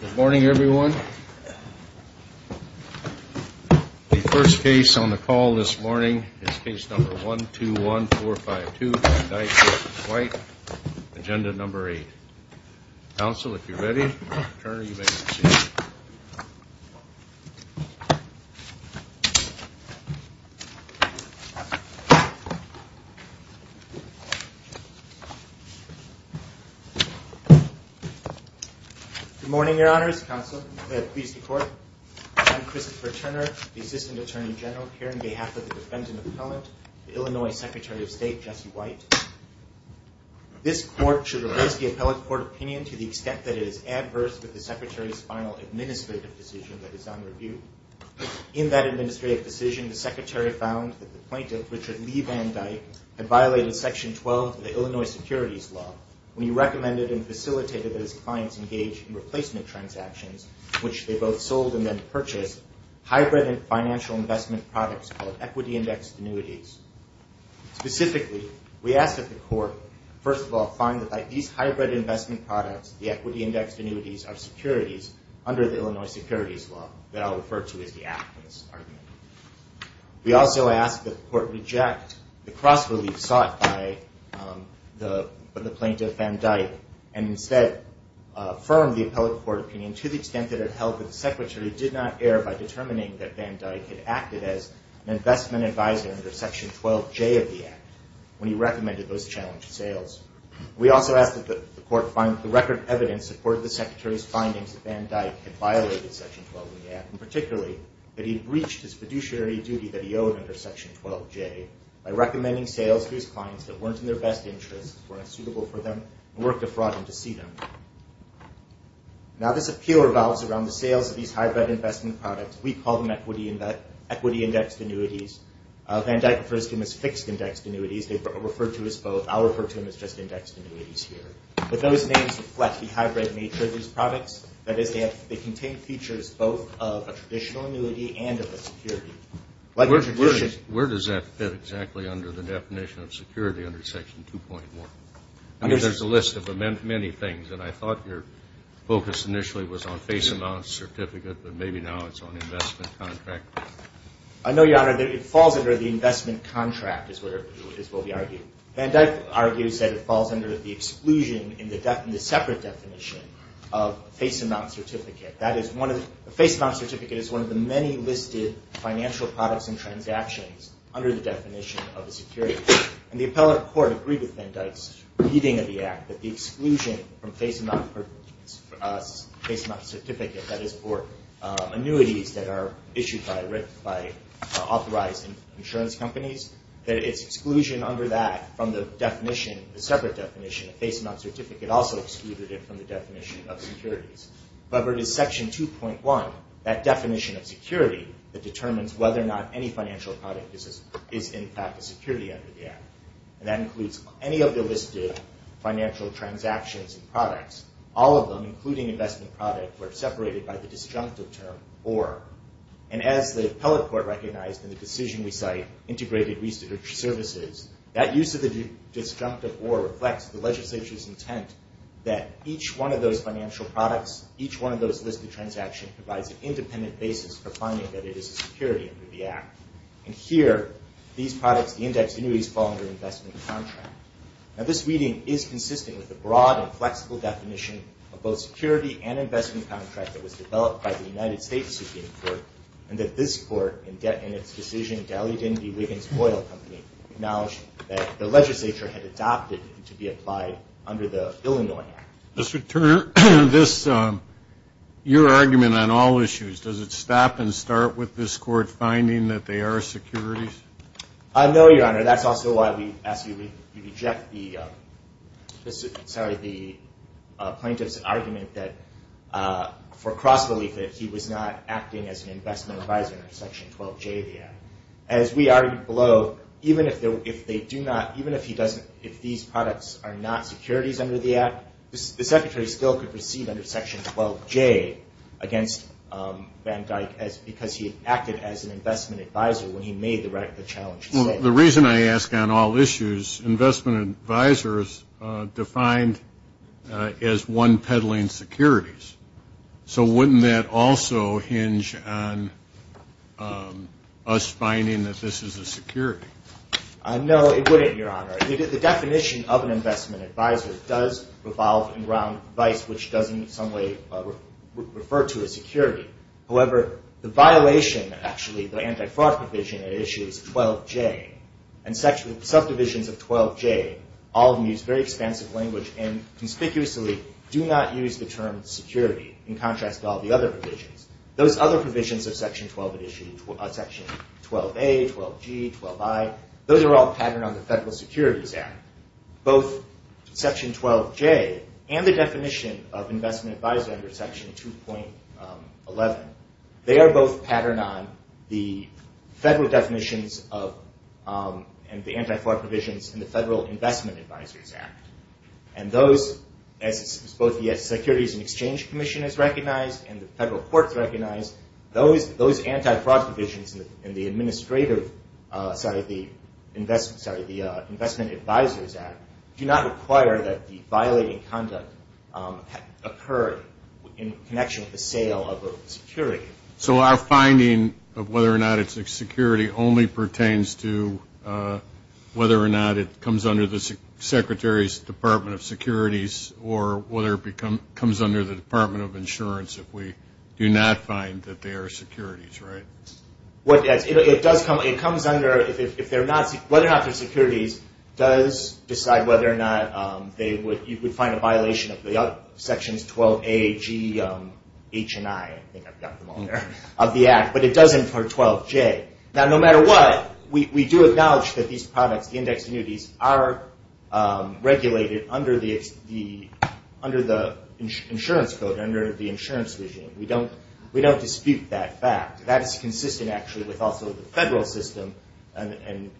Good morning, everyone. The first case on the call this morning is case number 121452, Dyke v. White, agenda number 8. Counsel, if you're ready, attorney, you may proceed. Good morning, Your Honors. Counsel, please report. I'm Christopher Turner, the assistant attorney general here on behalf of the defendant appellant, Illinois Secretary of State Jesse White. This court should reverse the appellate court opinion to the extent that it is adverse to the Secretary's final administrative decision that is on review. In that administrative decision, the Secretary found that the plaintiff, Richard Lee Van Dyke, had violated Section 12 of the Illinois Securities Law when he recommended and facilitated that his clients engage in replacement transactions, which they both sold and then purchased hybrid financial investment products called equity index annuities. Specifically, we ask that the court, first of all, find that these hybrid investment products, the equity index annuities, are securities under the Illinois Securities Law that I'll refer to as the Act in this argument. We also ask that the court reject the cross relief sought by the plaintiff, Van Dyke, and instead affirm the appellate court opinion to the extent that it held that the Secretary did not err by determining that Van Dyke had acted as an investment advisor under Section 12J of the Act when he recommended those challenged sales. We also ask that the court find that the record of evidence supported the Secretary's findings that Van Dyke had violated Section 12 of the Act, and particularly that he had breached his fiduciary duty that he owed under Section 12J by recommending sales to his clients that weren't in their best interests, weren't suitable for them, and worked a fraud to see them. Now, this appeal revolves around the sales of these hybrid investment products. We call them equity indexed annuities. Van Dyke refers to them as fixed indexed annuities. They're referred to as both. I'll refer to them as just indexed annuities here. But those names reflect the hybrid nature of these products. That is, they contain features both of a traditional annuity and of a security. Where does that fit exactly under the definition of security under Section 2.1? I mean, there's a list of many things, and I thought your focus initially was on face amount certificate, but maybe now it's on investment contract. I know, Your Honor, that it falls under the investment contract is what we argue. Van Dyke argues that it falls under the exclusion in the separate definition of face amount certificate. That is, a face amount certificate is one of the many listed financial products and transactions under the definition of a security. And the appellate court agreed with Van Dyke's reading of the Act that the exclusion from face amount certificate, that is for annuities that are issued by authorized insurance companies, that it's exclusion under that from the definition, the separate definition of face amount certificate, also excluded it from the definition of securities. However, it is Section 2.1, that definition of security, that determines whether or not any financial product is in fact a security under the Act. And that includes any of the listed financial transactions and products. All of them, including investment product, were separated by the disjunctive term, or. And as the appellate court recognized in the decision we cite, integrated research services, that use of the disjunctive or reflects the legislature's intent that each one of those financial products, each one of those listed transactions provides an independent basis for finding that it is a security under the Act. And here, these products, the index annuities, fall under investment contract. Now, this reading is consistent with the broad and flexible definition of both security and investment contract that was developed by the United States Supreme Court, and that this court, in its decision, Daly-Dindy Wiggins Oil Company, acknowledged that the legislature had adopted it to be applied under the Illinois Act. Mr. Turner, this, your argument on all issues, does it stop and start with this court finding that they are securities? No, Your Honor. That's also why we ask you to reject the plaintiff's argument that, for cross-belief, that he was not acting as an investment advisor under Section 12J of the Act. As we argued below, even if they do not, even if he doesn't, if these products are not securities under the Act, the Secretary still could proceed under Section 12J against Van Dyck because he acted as an investment advisor when he made the challenge. Well, the reason I ask on all issues, investment advisors defined as one peddling securities. So wouldn't that also hinge on us finding that this is a security? No, it wouldn't, Your Honor. The definition of an investment advisor does revolve around vice, which doesn't in some way refer to a security. However, the violation, actually, the anti-fraud provision at issue is 12J. And subdivisions of 12J, all of them use very expansive language and conspicuously do not use the term security in contrast to all the other provisions. Those other provisions of Section 12 that issue, Section 12A, 12G, 12I, those are all patterned on the Federal Securities Act. Both Section 12J and the definition of investment advisor under Section 2.11, they are both patterned on the federal definitions and the anti-fraud provisions in the Federal Investment Advisors Act. And those, as both the Securities and Exchange Commission has recognized and the federal courts recognized, those anti-fraud provisions in the administrative side of the Investment Advisors Act do not require that the violating conduct occurred in connection with the sale of a security. So our finding of whether or not it's a security only pertains to whether or not it comes under the Secretary's Department of Securities if we do not find that they are securities, right? It does come, it comes under, if they're not, whether or not they're securities does decide whether or not you would find a violation of Sections 12A, G, H, and I, I think I've got them all there, of the Act, but it doesn't for 12J. Now, no matter what, we do acknowledge that these products, are regulated under the insurance code, under the insurance regime. We don't dispute that fact. That is consistent, actually, with also the federal system and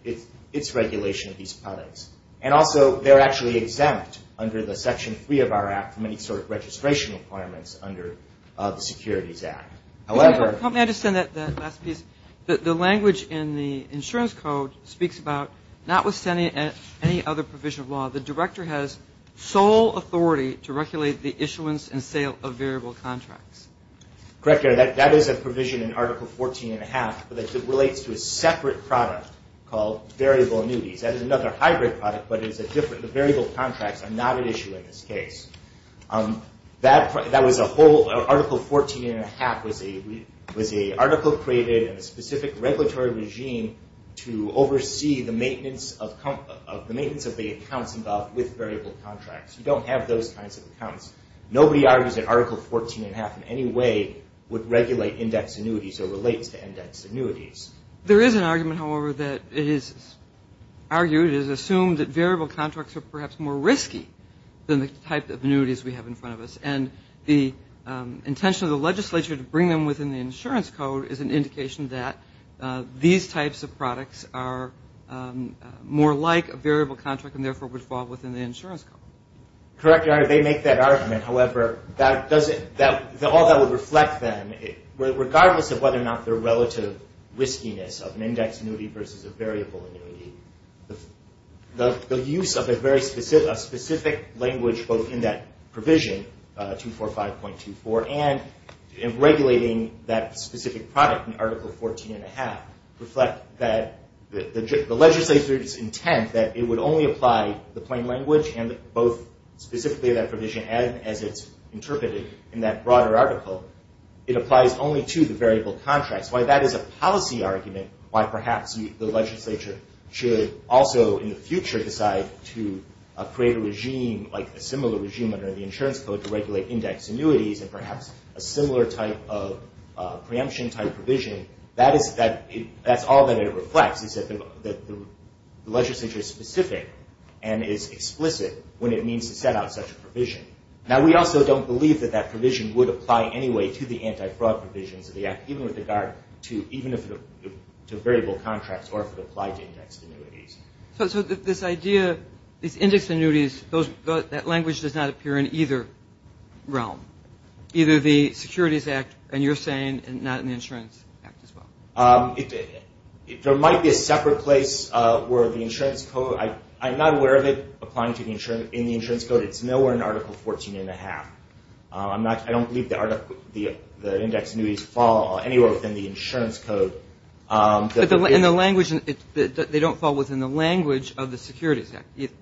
its regulation of these products. And also, they're actually exempt under the Section 3 of our Act from any sort of registration requirements under the Securities Act. Help me understand that last piece. The language in the insurance code speaks about, notwithstanding any other provision of law, the Director has sole authority to regulate the issuance and sale of variable contracts. Correct, that is a provision in Article 14 and a half that relates to a separate product called variable annuities. That is another hybrid product, but it is a different, the variable contracts are not at issue in this case. That, that was a whole, Article 14 and a half was a, was a article created in a specific regulatory regime to oversee the maintenance of, the maintenance of the accounts involved with variable contracts. You don't have those kinds of accounts. Nobody argues that Article 14 and a half in any way would regulate index annuities or relates to index annuities. There is an argument, however, that it is argued, it is assumed that variable contracts are perhaps more risky than the type of annuities we have in front of us. And the intention of the legislature to bring them within the insurance code is an indication that these types of products are more like a variable contract and therefore would fall within the insurance code. Correct, Your Honor. They make that argument. However, that doesn't, all that would reflect then, regardless of whether or not the relative riskiness of an index annuity versus a variable annuity, the use of a very specific language both in that provision, 245.24, and in regulating that specific product in Article 14 and a half, reflect that the legislature's intent that it would only apply the plain language and both specifically that provision as it's interpreted in that broader article, it applies only to the variable contracts. Why that is a policy argument, why perhaps the legislature should also in the future decide to create a regime, like a similar regime under the insurance code to regulate index annuities and perhaps a similar type of preemption type provision, that's all that it reflects is that the legislature is specific and is explicit when it means to set out such a provision. Now, we also don't believe that that provision would apply anyway to the anti-fraud provisions of the Act, even with regard to variable contracts or if it applied to index annuities. So this idea, these index annuities, that language does not appear in either realm, either the Securities Act, and you're saying, and not in the Insurance Act as well. There might be a separate place where the insurance code, I'm not aware of it applying in the insurance code. It's nowhere in Article 14 and a half. I don't believe the index annuities fall anywhere within the insurance code. But they don't fall within the language of the Securities Act either.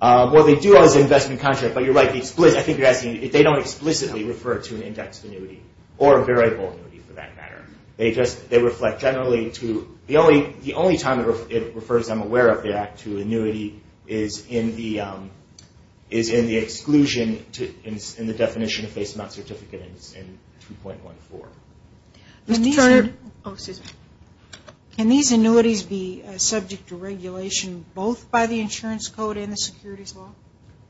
Well, they do as investment contracts, but you're right, I think you're asking if they don't explicitly refer to an index annuity or a variable annuity for that matter. They reflect generally to the only time it refers, I'm aware of that, to annuity is in the exclusion in the definition of face-to-mouth certificate in 2.14. Mr. Turner, can these annuities be subject to regulation both by the insurance code and the securities law?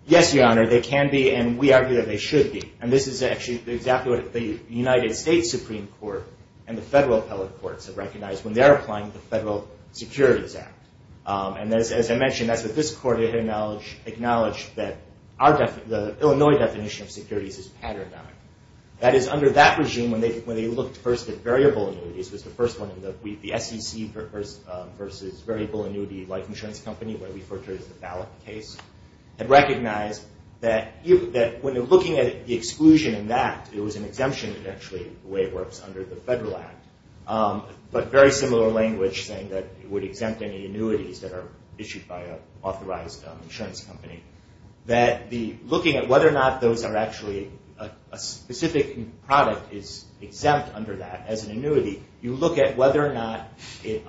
Yes, Your Honor, they can be, and we argue that they should be. And this is actually exactly what the United States Supreme Court and the federal appellate courts have recognized when they're applying the Federal Securities Act. And as I mentioned, that's what this court acknowledged, that the Illinois definition of securities is patterned on. That is, under that regime, when they looked first at variable annuities, it was the first one in the SEC versus variable annuity life insurance company, where we refer to it as the ballot case, had recognized that when they're looking at the exclusion in that, it was an exemption, actually, the way it works under the Federal Act. But very similar language saying that it would exempt any annuities that are issued by an authorized insurance company. That looking at whether or not those are actually, a specific product is exempt under that as an annuity, you look at whether or not it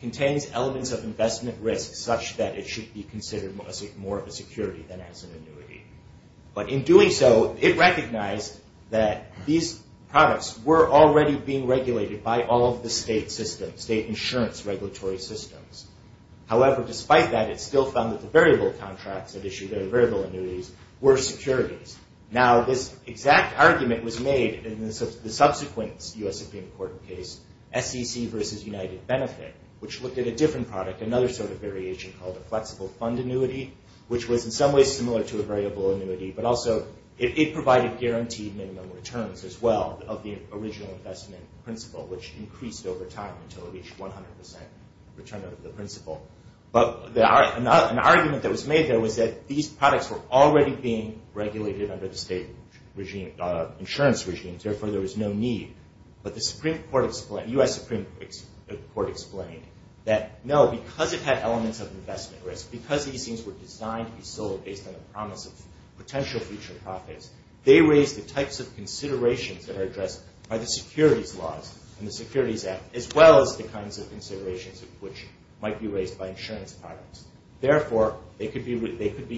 contains elements of investment risk such that it should be considered more of a security than as an annuity. But in doing so, it recognized that these products were already being regulated by all of the state systems, state insurance regulatory systems. However, despite that, it still found that the variable contracts that issued the variable annuities were securities. Now, this exact argument was made in the subsequent U.S. Supreme Court case, SEC versus United Benefit, which looked at a different product, another sort of variation called a flexible fund annuity, which was in some ways similar to a variable annuity, but also it provided guaranteed minimum returns as well of the original investment principle, which increased over time until it reached 100% return of the principle. But an argument that was made there was that these products were already being regulated under the state insurance regimes, therefore there was no need. But the U.S. Supreme Court explained that no, because it had elements of investment risk, because these things were designed to be sold based on the promise of potential future profits, they raised the types of considerations that are addressed by the securities laws and the Securities Act, as well as the kinds of considerations which might be raised by insurance products. Therefore, they should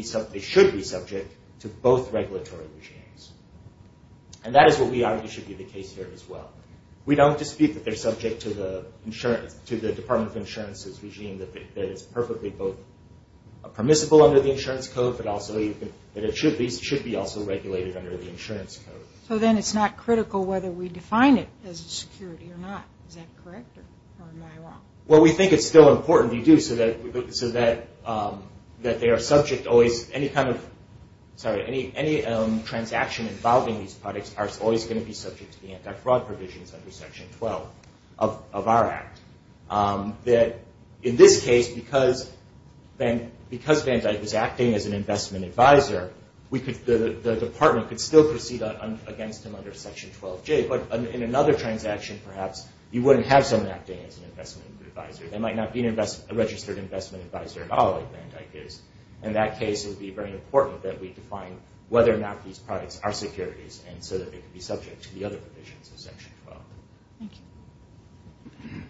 be subject to both regulatory regimes. And that is what we argue should be the case here as well. We don't dispute that they're subject to the Department of Insurance's regime, that it's perfectly both permissible under the insurance code, but also that these should be also regulated under the insurance code. So then it's not critical whether we define it as a security or not. Is that correct or am I wrong? Well, we think it's still important, we do, so that they are subject always, any transaction involving these products are always going to be subject to the anti-fraud provisions under Section 12 of our Act. In this case, because Van Dyck was acting as an investment advisor, the Department could still proceed against him under Section 12J, but in another transaction, perhaps, you wouldn't have someone acting as an investment advisor. There might not be a registered investment advisor at all like Van Dyck is. In that case, it would be very important that we define whether or not these products are securities, and so that they could be subject to the other provisions of Section 12. Thank you.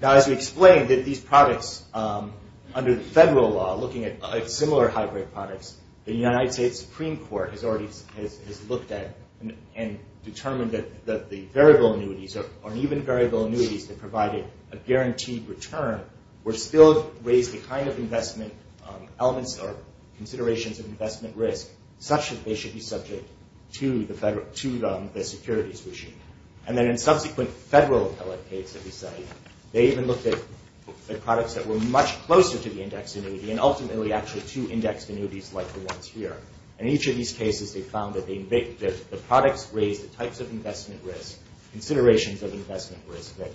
Now, as we explained, these products, under the federal law, looking at similar hybrid products, the United States Supreme Court has already looked at and determined that the variable annuities, or even variable annuities that provided a guaranteed return, were still raised to kind of investment elements or considerations of investment risk, such that they should be subject to the securities regime. And then in subsequent federal appellate case that we studied, they even looked at products that were much closer to the indexed annuity and ultimately actually to indexed annuities like the ones here. In each of these cases, they found that the products raised the types of investment risk, considerations of investment risk, that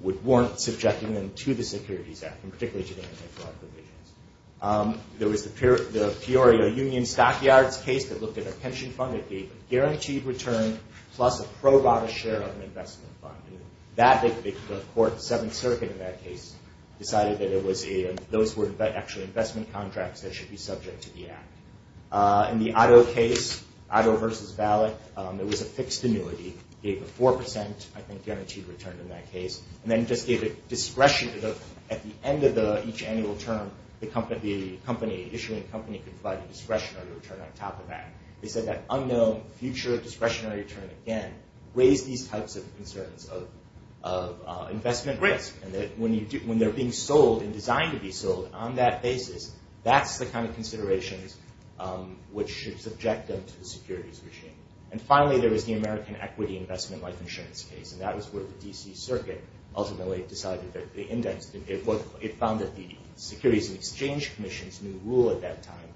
would warrant subjecting them to the Securities Act, and particularly to the anti-fraud provisions. There was the Peorio Union Stockyards case that looked at a pension fund that gave a guaranteed return plus a pro bono share of an investment fund. The Court of the Seventh Circuit in that case decided that those were actually investment contracts that should be subject to the Act. In the Otto case, Otto versus Ballot, there was a fixed annuity, gave a 4%, I think, guaranteed return in that case, and then just gave a discretionary return. At the end of each annual term, the issuing company could provide a discretionary return on top of that. They said that unknown future discretionary return, again, raised these types of concerns of investment risk, and that when they're being sold and designed to be sold on that basis, that's the kind of considerations which should subject them to the securities regime. And finally, there was the American Equity Investment Life Insurance case, and that was where the D.C. Circuit ultimately decided that the index... It found that the Securities and Exchange Commission's new rule at that time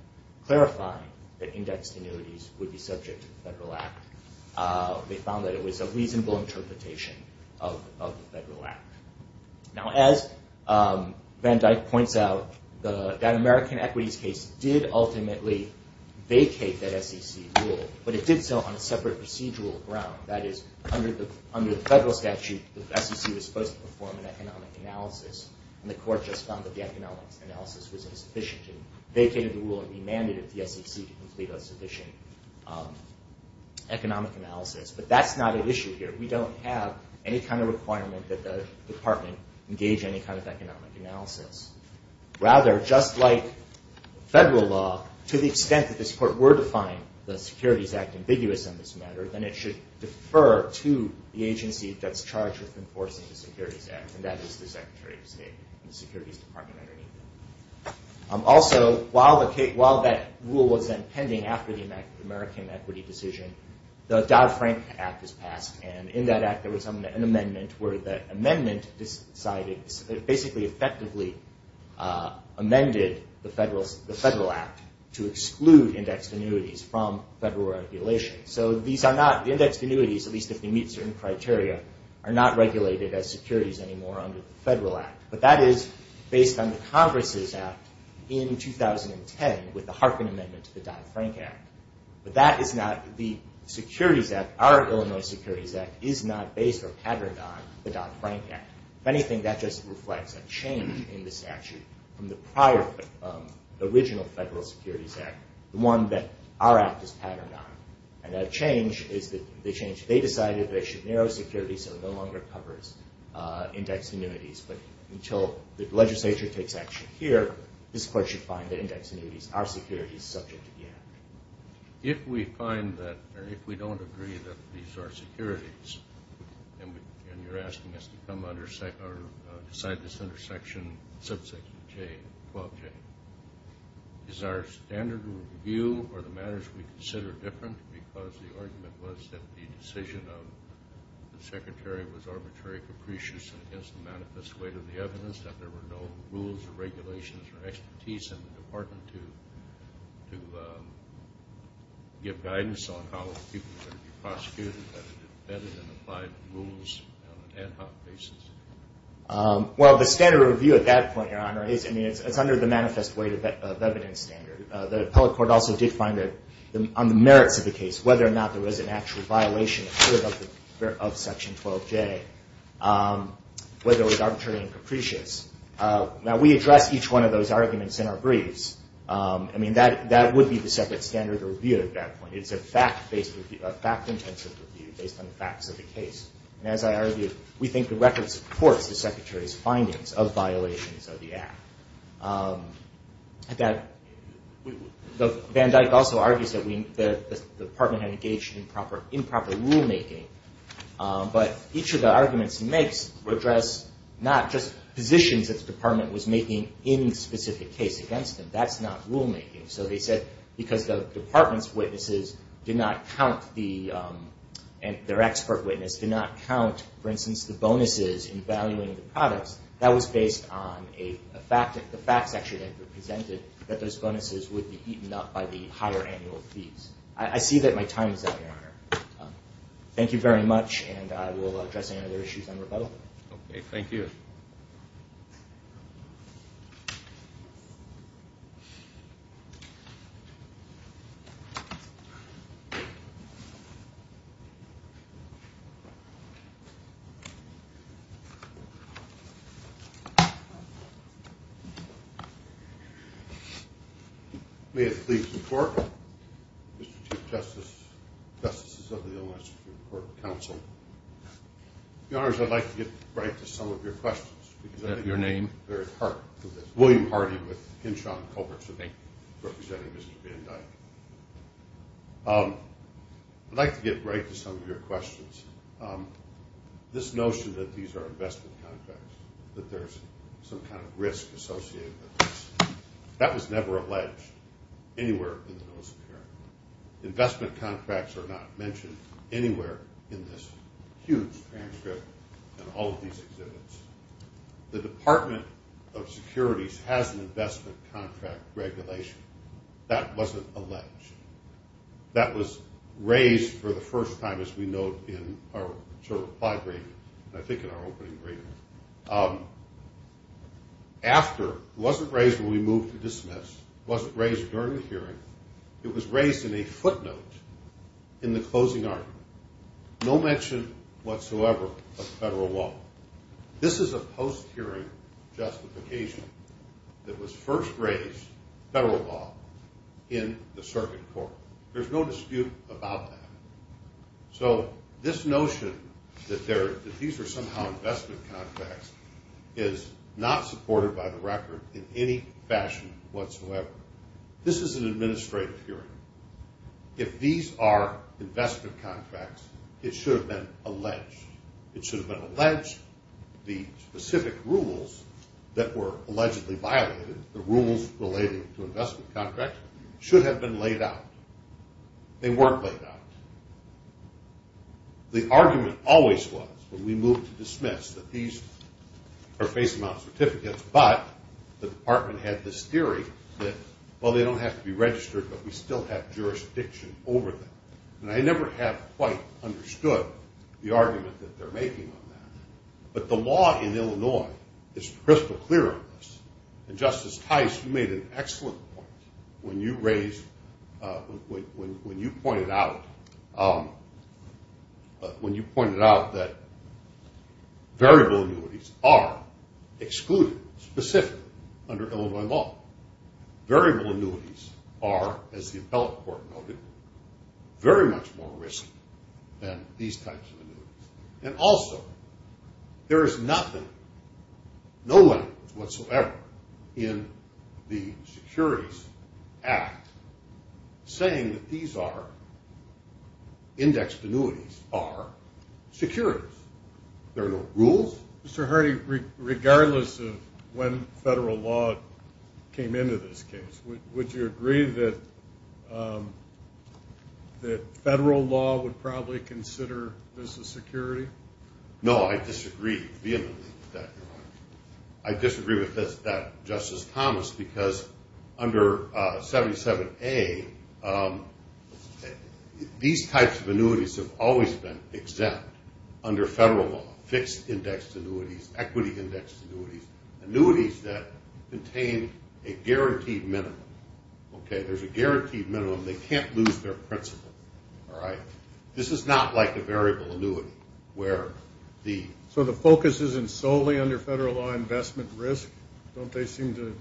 clarifying that indexed annuities would be subject to the Federal Act, they found that it was a reasonable interpretation of the Federal Act. Now, as Van Dyck points out, that American Equities case did ultimately vacate that SEC rule, but it did so on a separate procedural ground. That is, under the Federal statute, the SEC was supposed to perform an economic analysis, and the Court just found that the economic analysis was insufficient, and vacated the rule and demanded that the SEC complete a sufficient economic analysis. But that's not at issue here. We don't have any kind of requirement that the Department engage in any kind of economic analysis. Rather, just like Federal law, to the extent that this Court were to find the Securities Act ambiguous on this matter, then it should defer to the agency that's charged with enforcing the Securities Act, and that is the Secretary of State and the Securities Department underneath it. Also, while that rule was then pending after the American Equity decision, the Dodd-Frank Act was passed, and in that Act there was an amendment where the amendment decided... basically effectively amended the Federal Act to exclude indexed annuities from Federal regulation. So these are not... the indexed annuities, at least if they meet certain criteria, are not regulated as securities anymore under the Federal Act. But that is based on the Congress' Act in 2010 with the Harkin Amendment to the Dodd-Frank Act. But that is not... the Securities Act, our Illinois Securities Act, is not based or patterned on the Dodd-Frank Act. If anything, that just reflects a change in the statute from the prior original Federal Securities Act, the one that our Act is patterned on. And that change is that they decided they should narrow securities so it no longer covers indexed annuities. But until the legislature takes action here, this Court should find that indexed annuities are securities subject to the Act. If we find that, or if we don't agree that these are securities, and you're asking us to come under... decide this under Section 12J, is our standard of review or the matters we consider different because the argument was that the decision of the Secretary was arbitrary, capricious, and against the manifest weight of the evidence, that there were no rules or regulations or expertise in the Department to give guidance on how people were to be prosecuted, that it depended on applied rules on an ad hoc basis? Well, the standard of review at that point, Your Honor, is under the manifest weight of evidence standard. The Appellate Court also did find that on the merits of the case, whether or not there was an actual violation of Section 12J, whether it was arbitrary and capricious. Now, we address each one of those arguments in our briefs. I mean, that would be the separate standard of review at that point. It's a fact-intensive review based on the facts of the case. And as I argued, we think the record supports the Secretary's findings of violations of the Act. Van Dyck also argues that the Department had engaged in improper rulemaking, but each of the arguments he makes address not just positions that the Department was making in the specific case against him. That's not rulemaking. So they said because the Department's witnesses did not count the and their expert witness did not count, for instance, the bonuses in valuing the products, that was based on the facts actually that were presented, that those bonuses would be eaten up by the higher annual fees. I see that my time is up, Your Honor. Thank you very much, and I will address any other issues on rebuttal. Okay, thank you. May it please the Court. Mr. Chief Justices of the Illinois Supreme Court Counsel. Your Honors, I'd like to get right to some of your questions. Is that your name? Eric Hart. William Hardy with Hinshaw & Culbertson, representing Mr. Van Dyck. I'd like to get right to some of your questions. This notion that these are investment contracts, that there's some kind of risk associated with this, that was never alleged anywhere in the notice of care. Investment contracts are not mentioned anywhere in this huge transcript and all of these exhibits. The Department of Securities has an investment contract regulation. That wasn't alleged. That was raised for the first time, as we note, in our reply reading, I think in our opening reading. After, it wasn't raised when we moved to dismiss, it wasn't raised during the hearing, it was raised in a footnote in the closing argument. No mention whatsoever of federal law. This is a post-hearing justification that was first raised, federal law, in the circuit court. There's no dispute about that. So this notion that these are somehow investment contracts is not supported by the record in any fashion whatsoever. This is an administrative hearing. If these are investment contracts, it should have been alleged. It should have been alleged the specific rules that were allegedly violated, the rules relating to investment contracts, should have been laid out. They weren't laid out. The argument always was, when we moved to dismiss, that these are facing out certificates, but the department had this theory that, well, they don't have to be registered, but we still have jurisdiction over them. And I never have quite understood the argument that they're making on that. But the law in Illinois is crystal clear on this. And, Justice Tice, you made an excellent point when you pointed out that variable annuities are excluded specifically under Illinois law. Variable annuities are, as the appellate court noted, very much more risky than these types of annuities. And also, there is nothing, no evidence whatsoever, in the Securities Act saying that these are, indexed annuities, are securities. There are no rules. Mr. Hardy, regardless of when federal law came into this case, would you agree that federal law would probably consider this a security? No, I disagree vehemently with that argument. I disagree with that, Justice Thomas, because under 77A, these types of annuities have always been exempt under federal law, fixed-indexed annuities, equity-indexed annuities, annuities that contain a guaranteed minimum. Okay, there's a guaranteed minimum. They can't lose their principle. All right? This is not like a variable annuity where the ‑‑ don't they seem to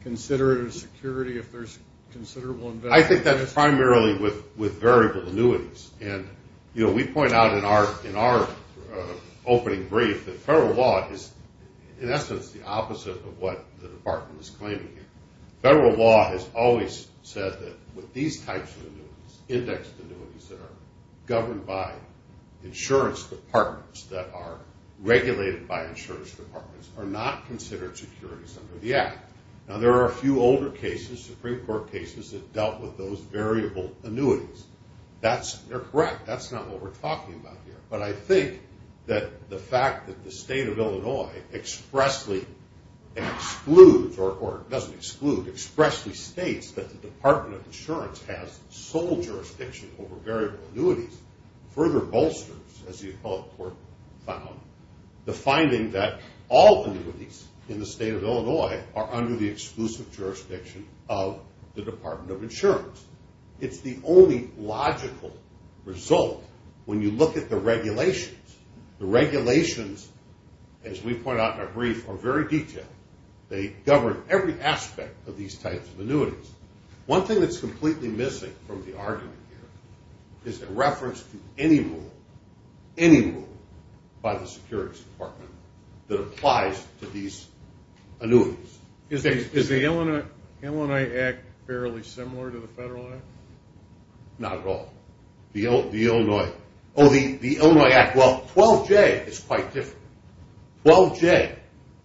consider it a security if there's considerable investment risk? I think that's primarily with variable annuities. And, you know, we point out in our opening brief that federal law is, in essence, the opposite of what the department is claiming here. Federal law has always said that with these types of annuities, indexed annuities that are governed by insurance departments that are regulated by insurance departments are not considered securities under the Act. Now, there are a few older cases, Supreme Court cases, that dealt with those variable annuities. They're correct. That's not what we're talking about here. But I think that the fact that the state of Illinois expressly excludes or doesn't exclude, expressly states that the Department of Insurance has sole jurisdiction over variable annuities further bolsters, as the appellate court found, the finding that all annuities in the state of Illinois are under the exclusive jurisdiction of the Department of Insurance. It's the only logical result when you look at the regulations. The regulations, as we point out in our brief, are very detailed. They govern every aspect of these types of annuities. One thing that's completely missing from the argument here is a reference to any rule, any rule by the securities department that applies to these annuities. Is the Illinois Act fairly similar to the Federal Act? Not at all. The Illinois Act, well, 12J is quite different. 12J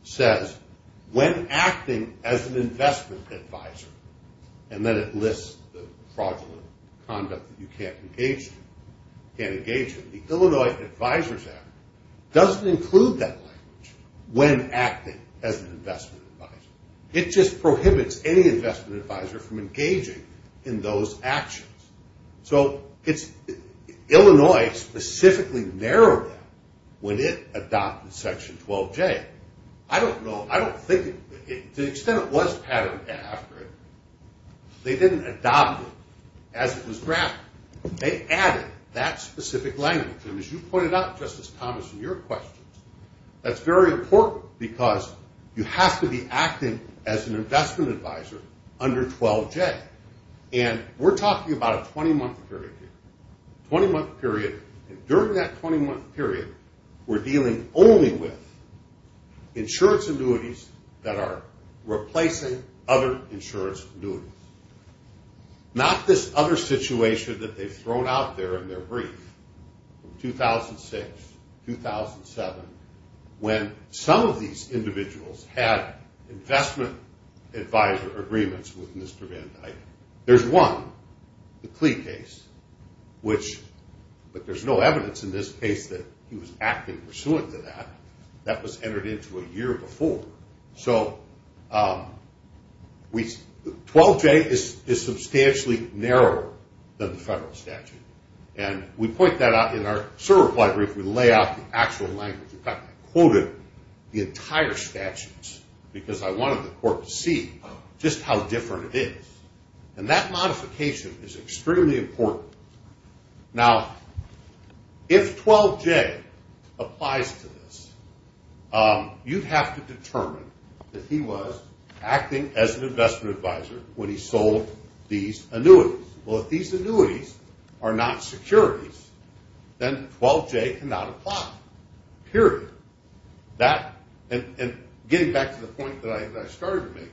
says when acting as an investment advisor, and then it lists the fraudulent conduct that you can't engage in. The Illinois Advisors Act doesn't include that language when acting as an investment advisor. It just prohibits any investment advisor from engaging in those actions. So Illinois specifically narrowed that when it adopted Section 12J. I don't know, I don't think, to the extent it was patterned after it, they didn't adopt it as it was drafted. They added that specific language. And as you pointed out, Justice Thomas, in your questions, that's very important because you have to be acting as an investment advisor under 12J. And we're talking about a 20-month period here, 20-month period. And during that 20-month period, we're dealing only with insurance annuities that are replacing other insurance annuities. Not this other situation that they've thrown out there in their brief, 2006, 2007, when some of these individuals had investment advisor agreements with Mr. Van Dyke. There's one, the Klee case, which, but there's no evidence in this case that he was acting pursuant to that. That was entered into a year before. So 12J is substantially narrower than the federal statute. And we point that out in our certified brief. We lay out the actual language. In fact, I quoted the entire statutes because I wanted the court to see just how different it is. And that modification is extremely important. Now, if 12J applies to this, you'd have to determine that he was acting as an investment advisor when he sold these annuities. Well, if these annuities are not securities, then 12J cannot apply, period. And getting back to the point that I started to make,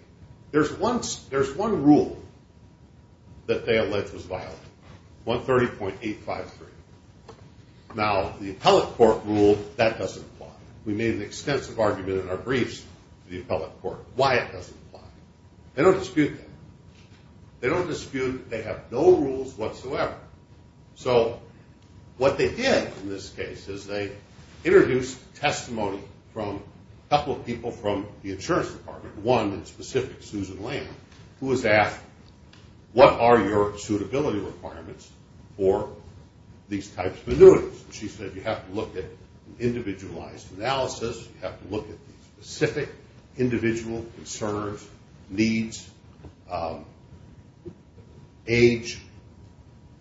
there's one rule that they allege was violated, 130.853. Now, the appellate court ruled that doesn't apply. We made an extensive argument in our briefs to the appellate court why it doesn't apply. They don't dispute that. They don't dispute that they have no rules whatsoever. So what they did in this case is they introduced testimony from a couple of people from the insurance department, one in specific, Susan Lamb, who was asked, what are your suitability requirements for these types of annuities? And she said, you have to look at individualized analysis. You have to look at the specific individual concerns, needs, age,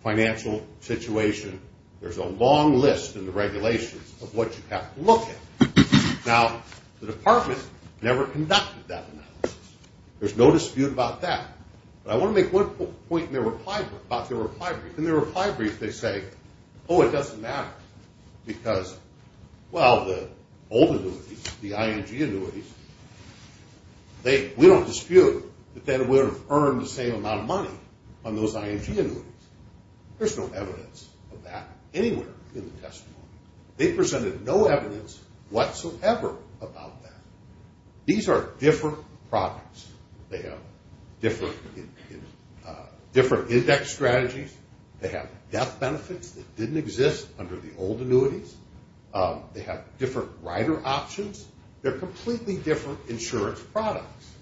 financial situation. There's a long list in the regulations of what you have to look at. Now, the department never conducted that analysis. There's no dispute about that. But I want to make one point in their reply brief. In their reply brief, they say, oh, it doesn't matter because, well, the old annuities, the ING annuities, we don't dispute that they would have earned the same amount of money on those ING annuities. There's no evidence of that anywhere in the testimony. They presented no evidence whatsoever about that. These are different products. They have different index strategies. They have death benefits that didn't exist under the old annuities. They have different rider options. They're completely different insurance products.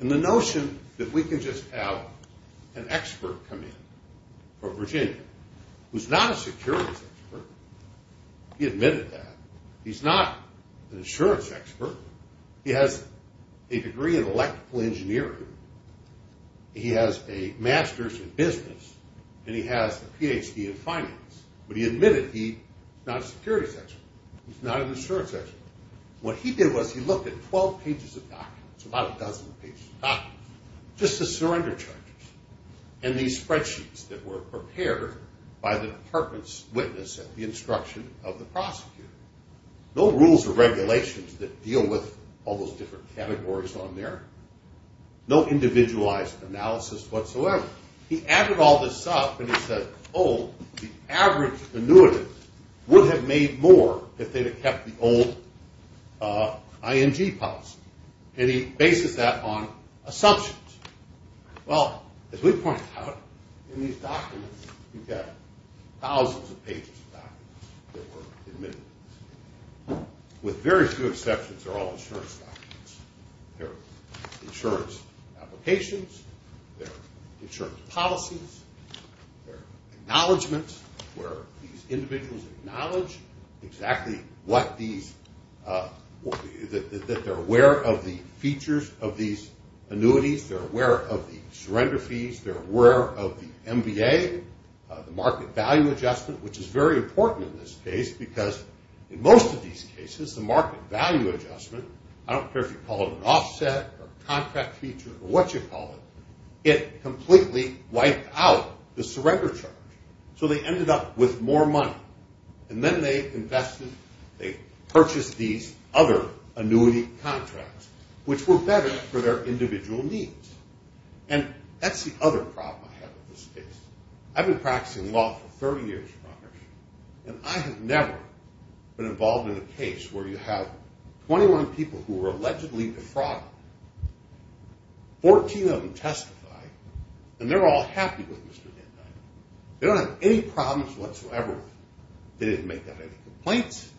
And the notion that we can just have an expert come in from Virginia, who's not a securities expert, he admitted that. He's not an insurance expert. He has a degree in electrical engineering. He has a master's in business, and he has a Ph.D. in finance. But he admitted he's not a securities expert. He's not an insurance expert. What he did was he looked at 12 pages of documents, about a dozen pages of documents, just the surrender charges, and these spreadsheets that were prepared by the department's witness at the instruction of the prosecutor. No rules or regulations that deal with all those different categories on there. No individualized analysis whatsoever. He added all this up, and he said, oh, the average annuitant would have made more if they'd have kept the old ING policy. And he bases that on assumptions. Well, as we pointed out, in these documents, you've got thousands of pages of documents that were admitted. With very few exceptions, they're all insurance documents. They're insurance applications. They're insurance policies. They're acknowledgements where these individuals acknowledge exactly what these – that they're aware of the features of these annuities. They're aware of the surrender fees. They're aware of the MBA, the market value adjustment, which is very important in this case because in most of these cases, the market value adjustment – I don't care if you call it an offset or a contract feature or what you call it – it completely wiped out the surrender charge. So they ended up with more money. And then they invested – they purchased these other annuity contracts, which were better for their individual needs. And that's the other problem I have in this case. I've been practicing law for 30 years, probably, and I have never been involved in a case where you have 21 people who were allegedly defrauded. Fourteen of them testified, and they're all happy with Mr. Denheimer. They don't have any problems whatsoever with him. They didn't make up any complaints.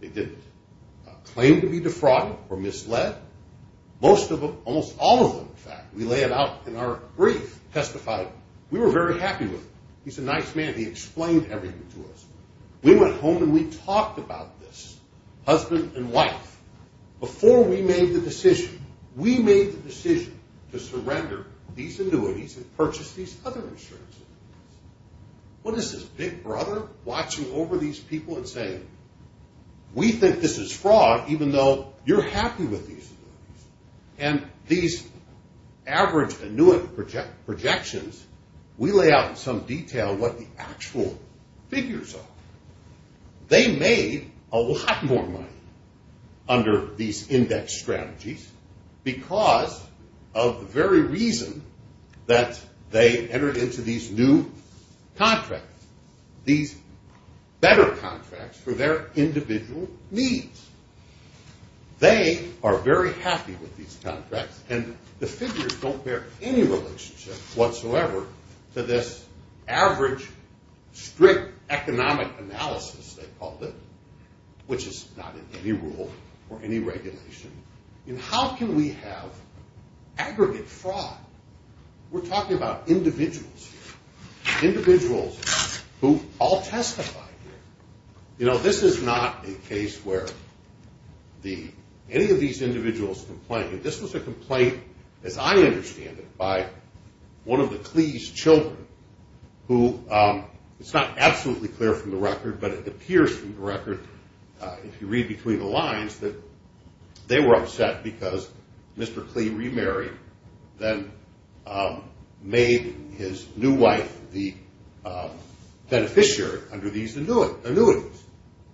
They didn't claim to be defrauded or misled. Most of them – almost all of them, in fact – we lay it out in our brief, testified. We were very happy with him. He's a nice man. He explained everything to us. We went home, and we talked about this, husband and wife, before we made the decision. We made the decision to surrender these annuities and purchase these other insurance annuities. What is this big brother watching over these people and saying, we think this is fraud even though you're happy with these annuities? And these average annuity projections, we lay out in some detail what the actual figures are. They made a lot more money under these index strategies because of the very reason that they entered into these new contracts, these better contracts for their individual needs. They are very happy with these contracts, and the figures don't bear any relationship whatsoever to this average, strict economic analysis, they called it, which is not in any rule or any regulation. And how can we have aggregate fraud? We're talking about individuals here, individuals who all testify here. You know, this is not a case where any of these individuals complained. This was a complaint, as I understand it, by one of the Clee's children, who it's not absolutely clear from the record, but it appears from the record, if you read between the lines, that they were upset because Mr. Clee remarried, then made his new wife the beneficiary under these annuities.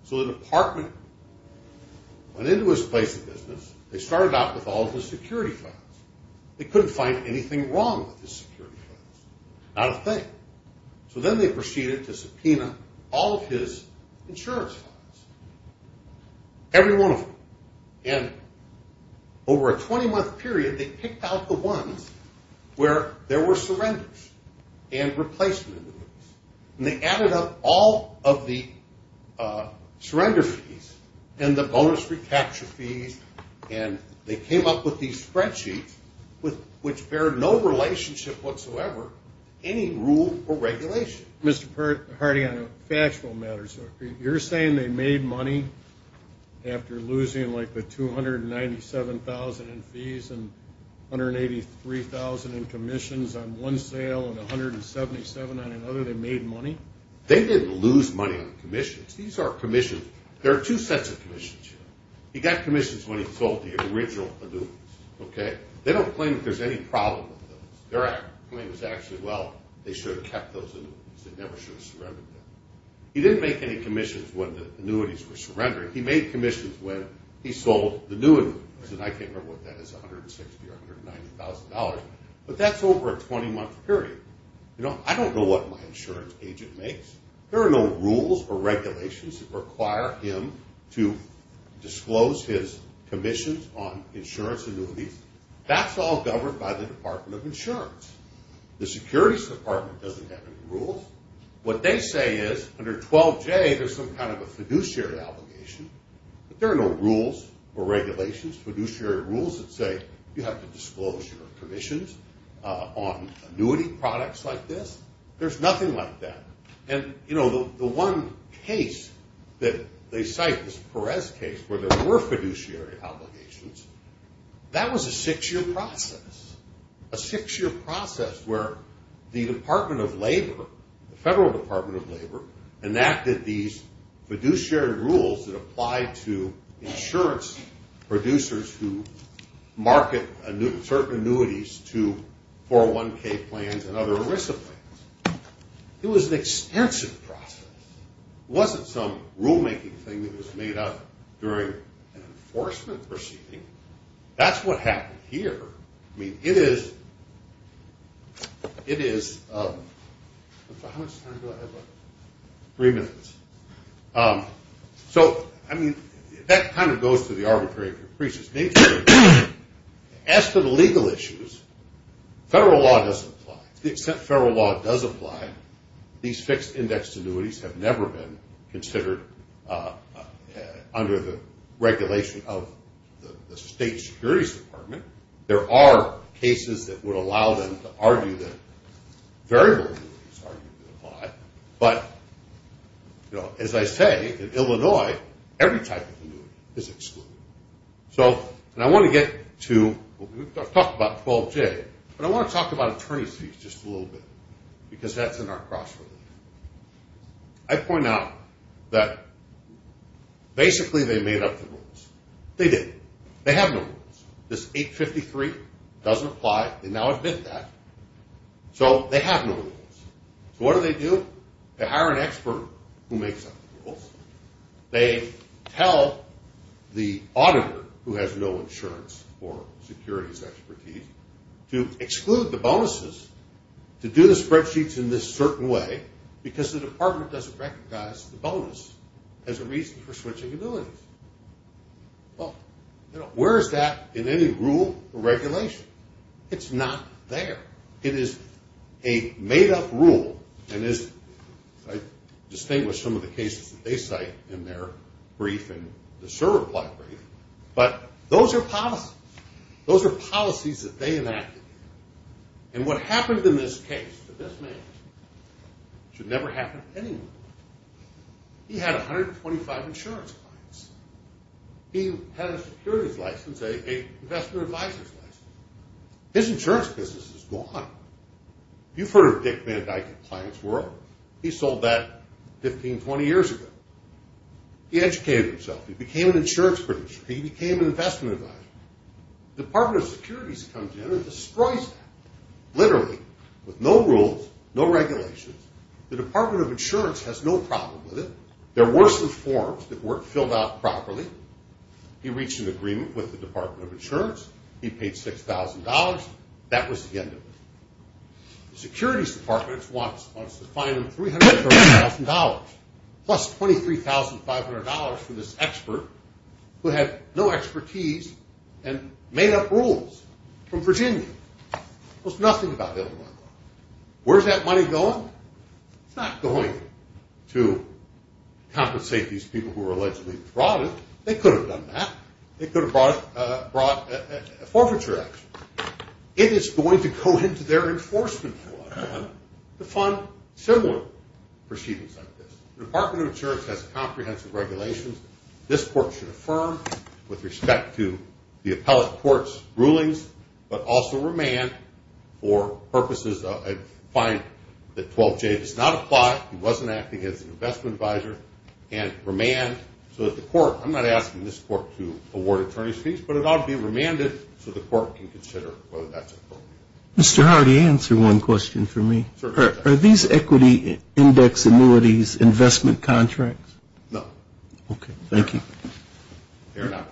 So the department went into his place of business. They started out with all of his security files. They couldn't find anything wrong with his security files, not a thing. So then they proceeded to subpoena all of his insurance files, every one of them. And over a 20-month period, they picked out the ones where there were surrenders and replacements. And they added up all of the surrender fees and the bonus recapture fees, and they came up with these spreadsheets, which bear no relationship whatsoever, any rule or regulation. Mr. Hardy, on a factual matter, so you're saying they made money after losing like the $297,000 in fees and $183,000 in commissions on one sale and $177,000 on another, they made money? They didn't lose money on commissions. These are commissions. There are two sets of commissions here. He got commissions when he sold the original annuities, okay? They don't claim that there's any problem with those. Their claim is actually, well, they should have kept those annuities. They never should have surrendered them. He didn't make any commissions when the annuities were surrendered. He made commissions when he sold the new annuities, and I can't remember what that is, $160,000 or $190,000. But that's over a 20-month period. You know, I don't know what my insurance agent makes. There are no rules or regulations that require him to disclose his commissions on insurance annuities. That's all governed by the Department of Insurance. The Securities Department doesn't have any rules. What they say is under 12J there's some kind of a fiduciary obligation, but there are no rules or regulations, fiduciary rules that say you have to disclose your commissions on annuity products like this. There's nothing like that. And, you know, the one case that they cite, this Perez case, where there were fiduciary obligations, that was a six-year process, a six-year process where the Department of Labor, the Federal Department of Labor, enacted these fiduciary rules that applied to insurance producers who market certain annuities to 401K plans and other ERISA plans. It was an extensive process. It wasn't some rulemaking thing that was made up during an enforcement proceeding. That's what happened here. I mean, it is – how much time do I have left? Three minutes. So, I mean, that kind of goes to the arbitrary of your priest's nature. As for the legal issues, federal law doesn't apply. To the extent federal law does apply, these fixed-index annuities have never been considered under the regulation of the state securities department. There are cases that would allow them to argue that variable annuities are going to apply. But, you know, as I say, in Illinois, every type of annuity is excluded. So, and I want to get to – we've talked about 12J, but I want to talk about attorney's fees just a little bit because that's in our cross-relation. I point out that basically they made up the rules. They didn't. They have no rules. This 853 doesn't apply. They now admit that. So, they have no rules. So, what do they do? They hire an expert who makes up the rules. They tell the auditor, who has no insurance or securities expertise, to exclude the bonuses, to do the spreadsheets in this certain way, because the department doesn't recognize the bonus as a reason for switching annuities. Well, you know, where is that in any rule or regulation? It's not there. It is a made-up rule. And as I distinguished some of the cases that they cite in their brief and the server block brief, but those are policies. Those are policies that they enacted. And what happened in this case to this man should never happen to anyone. He had 125 insurance clients. His insurance business is gone. You've heard of Dick Van Dyke and Clients World. He sold that 15, 20 years ago. He educated himself. He became an insurance producer. He became an investment advisor. The Department of Security comes in and destroys that, literally, with no rules, no regulations. The Department of Insurance has no problem with it. There were some forms that weren't filled out properly. He reached an agreement with the Department of Insurance. He paid $6,000. That was the end of it. The Securities Department wants to fine him $330,000, plus $23,500 for this expert who had no expertise and made up rules from Virginia. It was nothing about Illinois law. Where is that money going? It's not going to compensate these people who were allegedly defrauded. They could have done that. They could have brought a forfeiture action. It is going to go into their enforcement to fund similar proceedings like this. The Department of Insurance has comprehensive regulations this court should affirm with respect to the appellate court's rulings, but also remand for purposes of a fine that 12J does not apply. He wasn't acting as an investment advisor. I'm not asking this court to award attorney's fees, but it ought to be remanded so the court can consider whether that's appropriate. Mr. Hardy, answer one question for me. Are these equity index annuities investment contracts? No. Okay. Thank you. They're not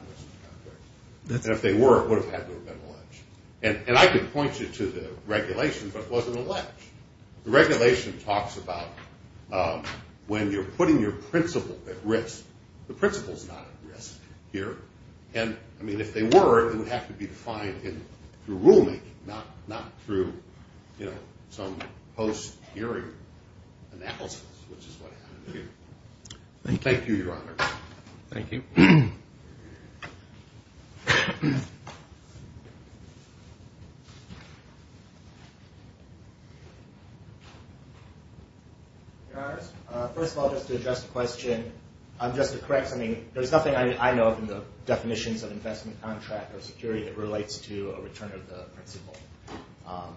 investment contracts. If they were, it would have had to have been alleged. And I could point you to the regulations, but it wasn't alleged. The regulation talks about when you're putting your principal at risk, the principal's not at risk here. And, I mean, if they were, it would have to be defined through rulemaking, not through some post-hearing analysis, which is what happened here. Thank you. Thank you, Your Honor. Thank you. Your Honors, first of all, just to address the question, just to correct something, there's nothing I know of in the definitions of investment contract or security that relates to a return of the principal.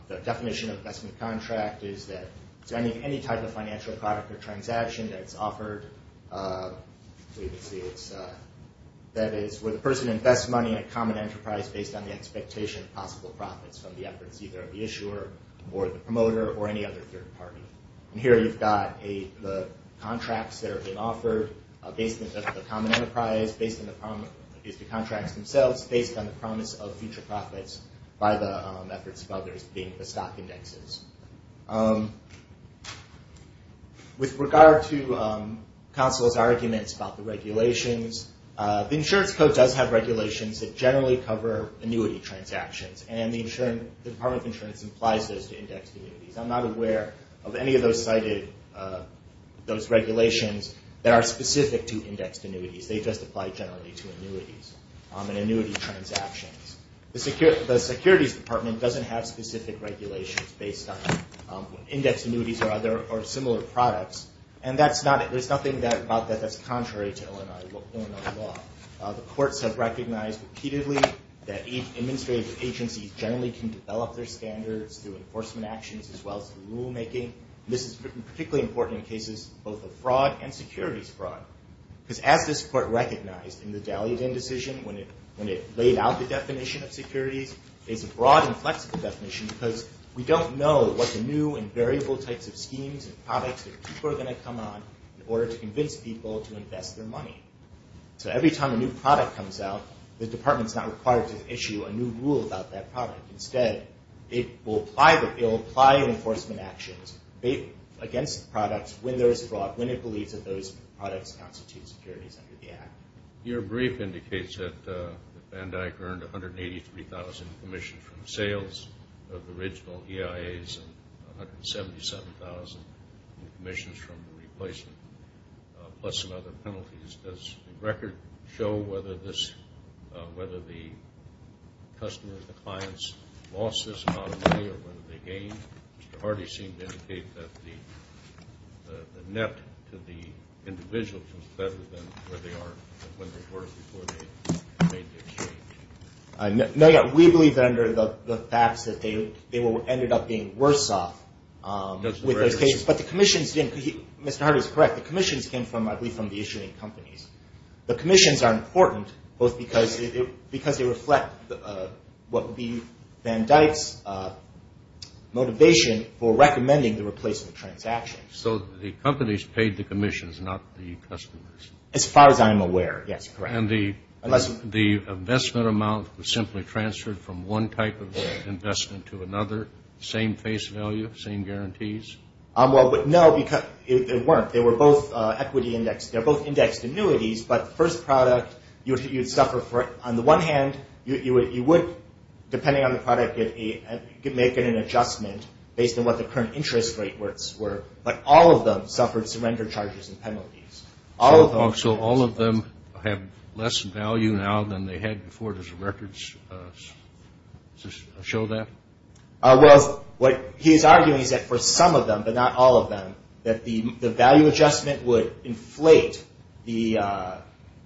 The definition of investment contract is that any type of financial product or transaction that's offered, that is where the person invests money in a common enterprise based on the expectation of possible profits from the efforts either of the issuer or the promoter or any other third party. And here you've got the contracts that are being offered based on the common enterprise, based on the contracts themselves, based on the promise of future profits by the efforts of others, being the stock indexes. With regard to counsel's arguments about the regulations, the insurance code does have regulations that generally cover annuity transactions, and the Department of Insurance applies those to index annuities. I'm not aware of any of those regulations that are specific to indexed annuities. They just apply generally to annuities and annuity transactions. The Securities Department doesn't have specific regulations based on index annuities or similar products, and there's nothing about that that's contrary to Illinois law. The courts have recognized repeatedly that administrative agencies generally can develop their standards through enforcement actions as well as through rulemaking. This is particularly important in cases both of fraud and securities fraud, because as this court recognized in the Daliadin decision when it laid out the definition of securities, it's a broad and flexible definition because we don't know what the new and variable types of schemes and products that people are going to come on in order to convince people to invest their money. So every time a new product comes out, the department's not required to issue a new rule about that product. Instead, it will apply enforcement actions against the products when there is fraud, when it believes that those products constitute securities under the Act. Your brief indicates that BANDAC earned 183,000 commissions from sales of the original EIAs and 177,000 commissions from the replacement, plus some other penalties. Does the record show whether the customers, the clients, lost this amount of money or whether they gained? Mr. Hardy seemed to indicate that the net to the individual was better than where they were before they made the exchange. We believe that under the facts that they ended up being worse off with those cases. But the commissions didn't. Mr. Hardy is correct. The commissions came, I believe, from the issuing companies. The commissions are important both because they reflect what would be BANDAC's motivation for recommending the replacement transaction. So the companies paid the commissions, not the customers. As far as I'm aware, yes, correct. And the investment amount was simply transferred from one type of investment to another, same face value, same guarantees? Well, no, it weren't. They were both equity indexed. They were both indexed annuities. But the first product, you would suffer for it. On the one hand, you would, depending on the product, make an adjustment based on what the current interest rates were. But all of them suffered surrender charges and penalties. So all of them have less value now than they had before? Does the records show that? Well, what he is arguing is that for some of them, but not all of them, that the value adjustment would inflate the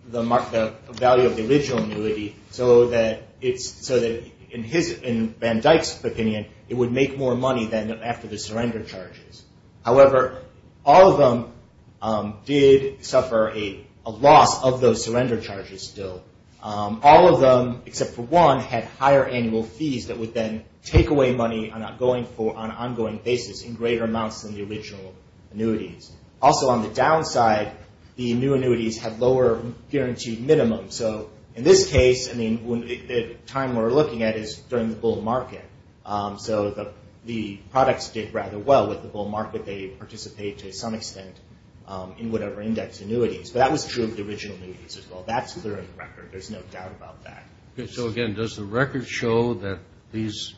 value of the original annuity so that, in BANDAC's opinion, it would make more money than after the surrender charges. However, all of them did suffer a loss of those surrender charges still. All of them, except for one, had higher annual fees that would then take away money on an ongoing basis in greater amounts than the original annuities. Also, on the downside, the new annuities had lower guaranteed minimums. So in this case, the time we're looking at is during the bull market. So the products did rather well with the bull market. They participated to some extent in whatever index annuities. But that was true of the original annuities as well. That's clear in the record. There's no doubt about that. So, again, does the record show that these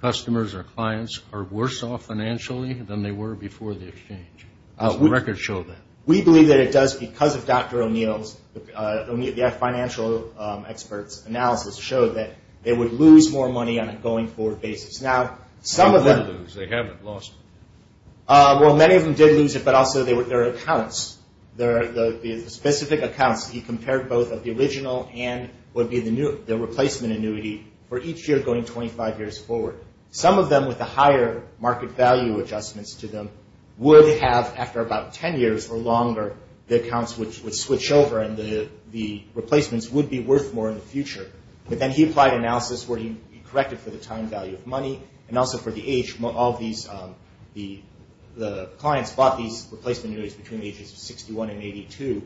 customers or clients are worse off financially than they were before the exchange? Does the record show that? We believe that it does because of Dr. O'Neill's financial experts' analysis showed that they would lose more money on a going-forward basis. Now, some of them – They didn't lose. They haven't lost. Well, many of them did lose it, but also their accounts, the specific accounts he compared both of the original and would be the replacement annuity for each year going 25 years forward. Some of them, with the higher market value adjustments to them, would have, after about 10 years or longer, the accounts would switch over and the replacements would be worth more in the future. But then he applied analysis where he corrected for the time value of money and also for the age. All of the clients bought these replacement annuities between the ages of 61 and 82.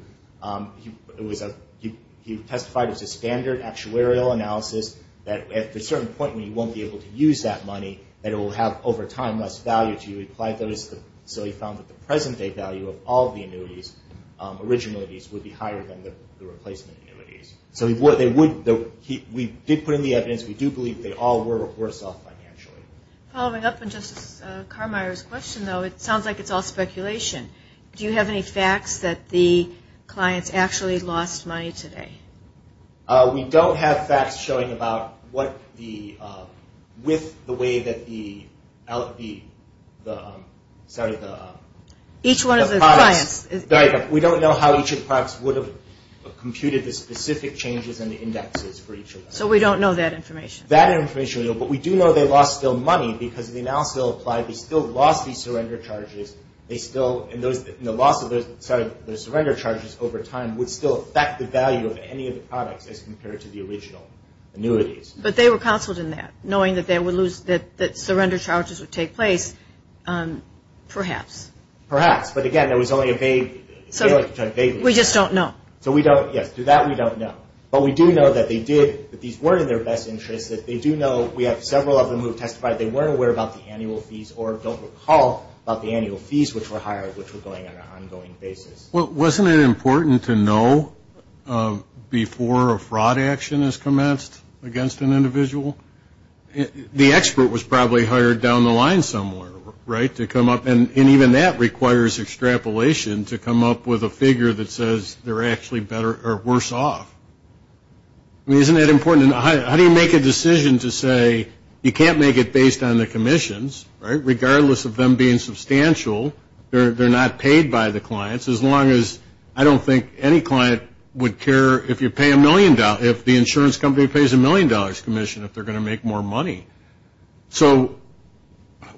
He testified it was a standard actuarial analysis that, at a certain point when you won't be able to use that money, that it will have, over time, less value to you. So he found that the present-day value of all the annuities, original annuities, would be higher than the replacement annuities. So we did put in the evidence. We do believe they all were worse off financially. Following up on Justice Carmeier's question, though, it sounds like it's all speculation. Do you have any facts that the clients actually lost money today? We don't have facts showing about what the – with the way that the – sorry, the – Each one of the clients – We don't know how each of the products would have computed the specific changes in the indexes for each of them. So we don't know that information? That information we don't, but we do know they lost still money because the analysis they applied, they still lost these surrender charges. They still – and the loss of those surrender charges over time would still affect the value of any of the products as compared to the original annuities. But they were counseled in that, knowing that they would lose – that surrender charges would take place, perhaps. Perhaps, but again, that was only a vague – We just don't know. So we don't – yes, through that we don't know. But we do know that they did – that these were in their best interest, we have several of them who have testified they weren't aware about the annual fees or don't recall about the annual fees which were hired, which were going on an ongoing basis. Well, wasn't it important to know before a fraud action is commenced against an individual? The expert was probably hired down the line somewhere, right, to come up – and even that requires extrapolation to come up with a figure that says they're actually better or worse off. I mean, isn't that important? How do you make a decision to say you can't make it based on the commissions, right, regardless of them being substantial, they're not paid by the clients, as long as – I don't think any client would care if you pay a million – if the insurance company pays a million dollars commission if they're going to make more money. So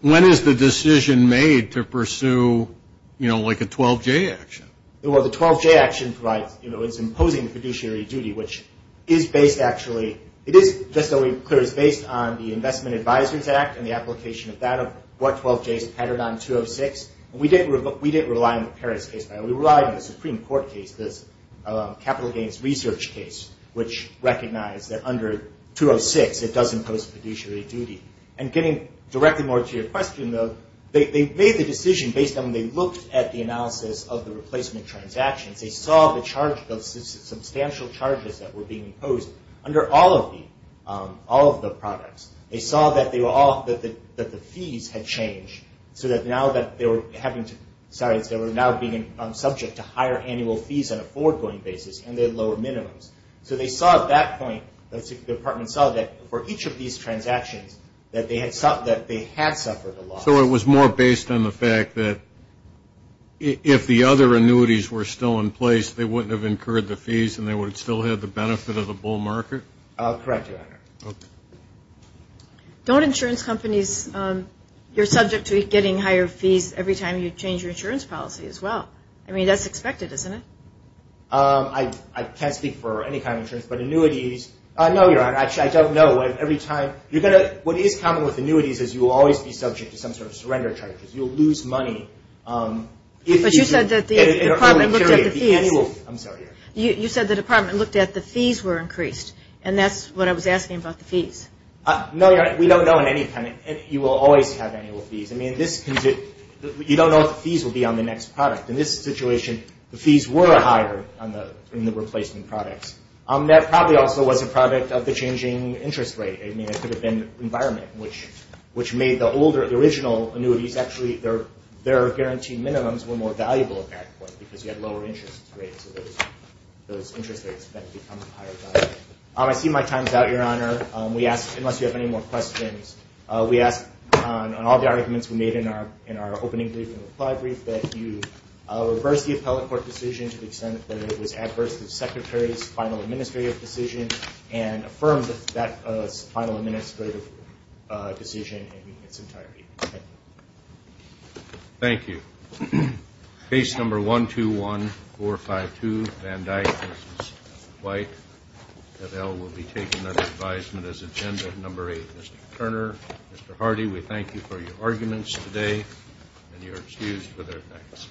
when is the decision made to pursue, you know, like a 12-J action? Well, the 12-J action provides – you know, it's imposing fiduciary duty, which is based actually – it is, just so we're clear, it's based on the Investment Advisors Act and the application of that of what 12-Js patterned on 206. We didn't rely on the Paris case, by the way. We relied on the Supreme Court case, this capital gains research case, which recognized that under 206 it does impose fiduciary duty. And getting directly more to your question, though, they made the decision based on when they looked at the analysis of the replacement transactions. They saw the substantial charges that were being imposed under all of the products. They saw that the fees had changed so that now that they were having to – sorry, they were now being subject to higher annual fees on a forward-going basis and they had lower minimums. So they saw at that point, the department saw that for each of these transactions, that they had suffered a loss. So it was more based on the fact that if the other annuities were still in place, they wouldn't have incurred the fees and they would still have the benefit of the bull market? Correct, Your Honor. Don't insurance companies – you're subject to getting higher fees every time you change your insurance policy as well. I mean, that's expected, isn't it? I can't speak for any kind of insurance, but annuities – what is common with annuities is you'll always be subject to some sort of surrender charges. You'll lose money. But you said that the department looked at the fees. I'm sorry, Your Honor. You said the department looked at the fees were increased, and that's what I was asking about the fees. No, Your Honor. We don't know in any kind of – you will always have annual fees. I mean, this – you don't know if the fees will be on the next product. In this situation, the fees were higher in the replacement products. That probably also was a product of the changing interest rate. I mean, it could have been environment, which made the older – the original annuities, actually their guaranteed minimums were more valuable at that point because you had lower interest rates. So those interest rates then become higher value. I see my time is out, Your Honor. We ask – unless you have any more questions, we ask on all the arguments we made in our opening briefing reply brief that you reverse the appellate court decision to the extent that it was adverse to the Secretary's final administrative decision and affirm that that final administrative decision in its entirety. Thank you. Thank you. Case number 121452, Van Dyck v. White. F.L. will be taking that advisement as agenda. Number 8, Mr. Turner. Mr. Hardy, we thank you for your arguments today, and you are excused for their effects.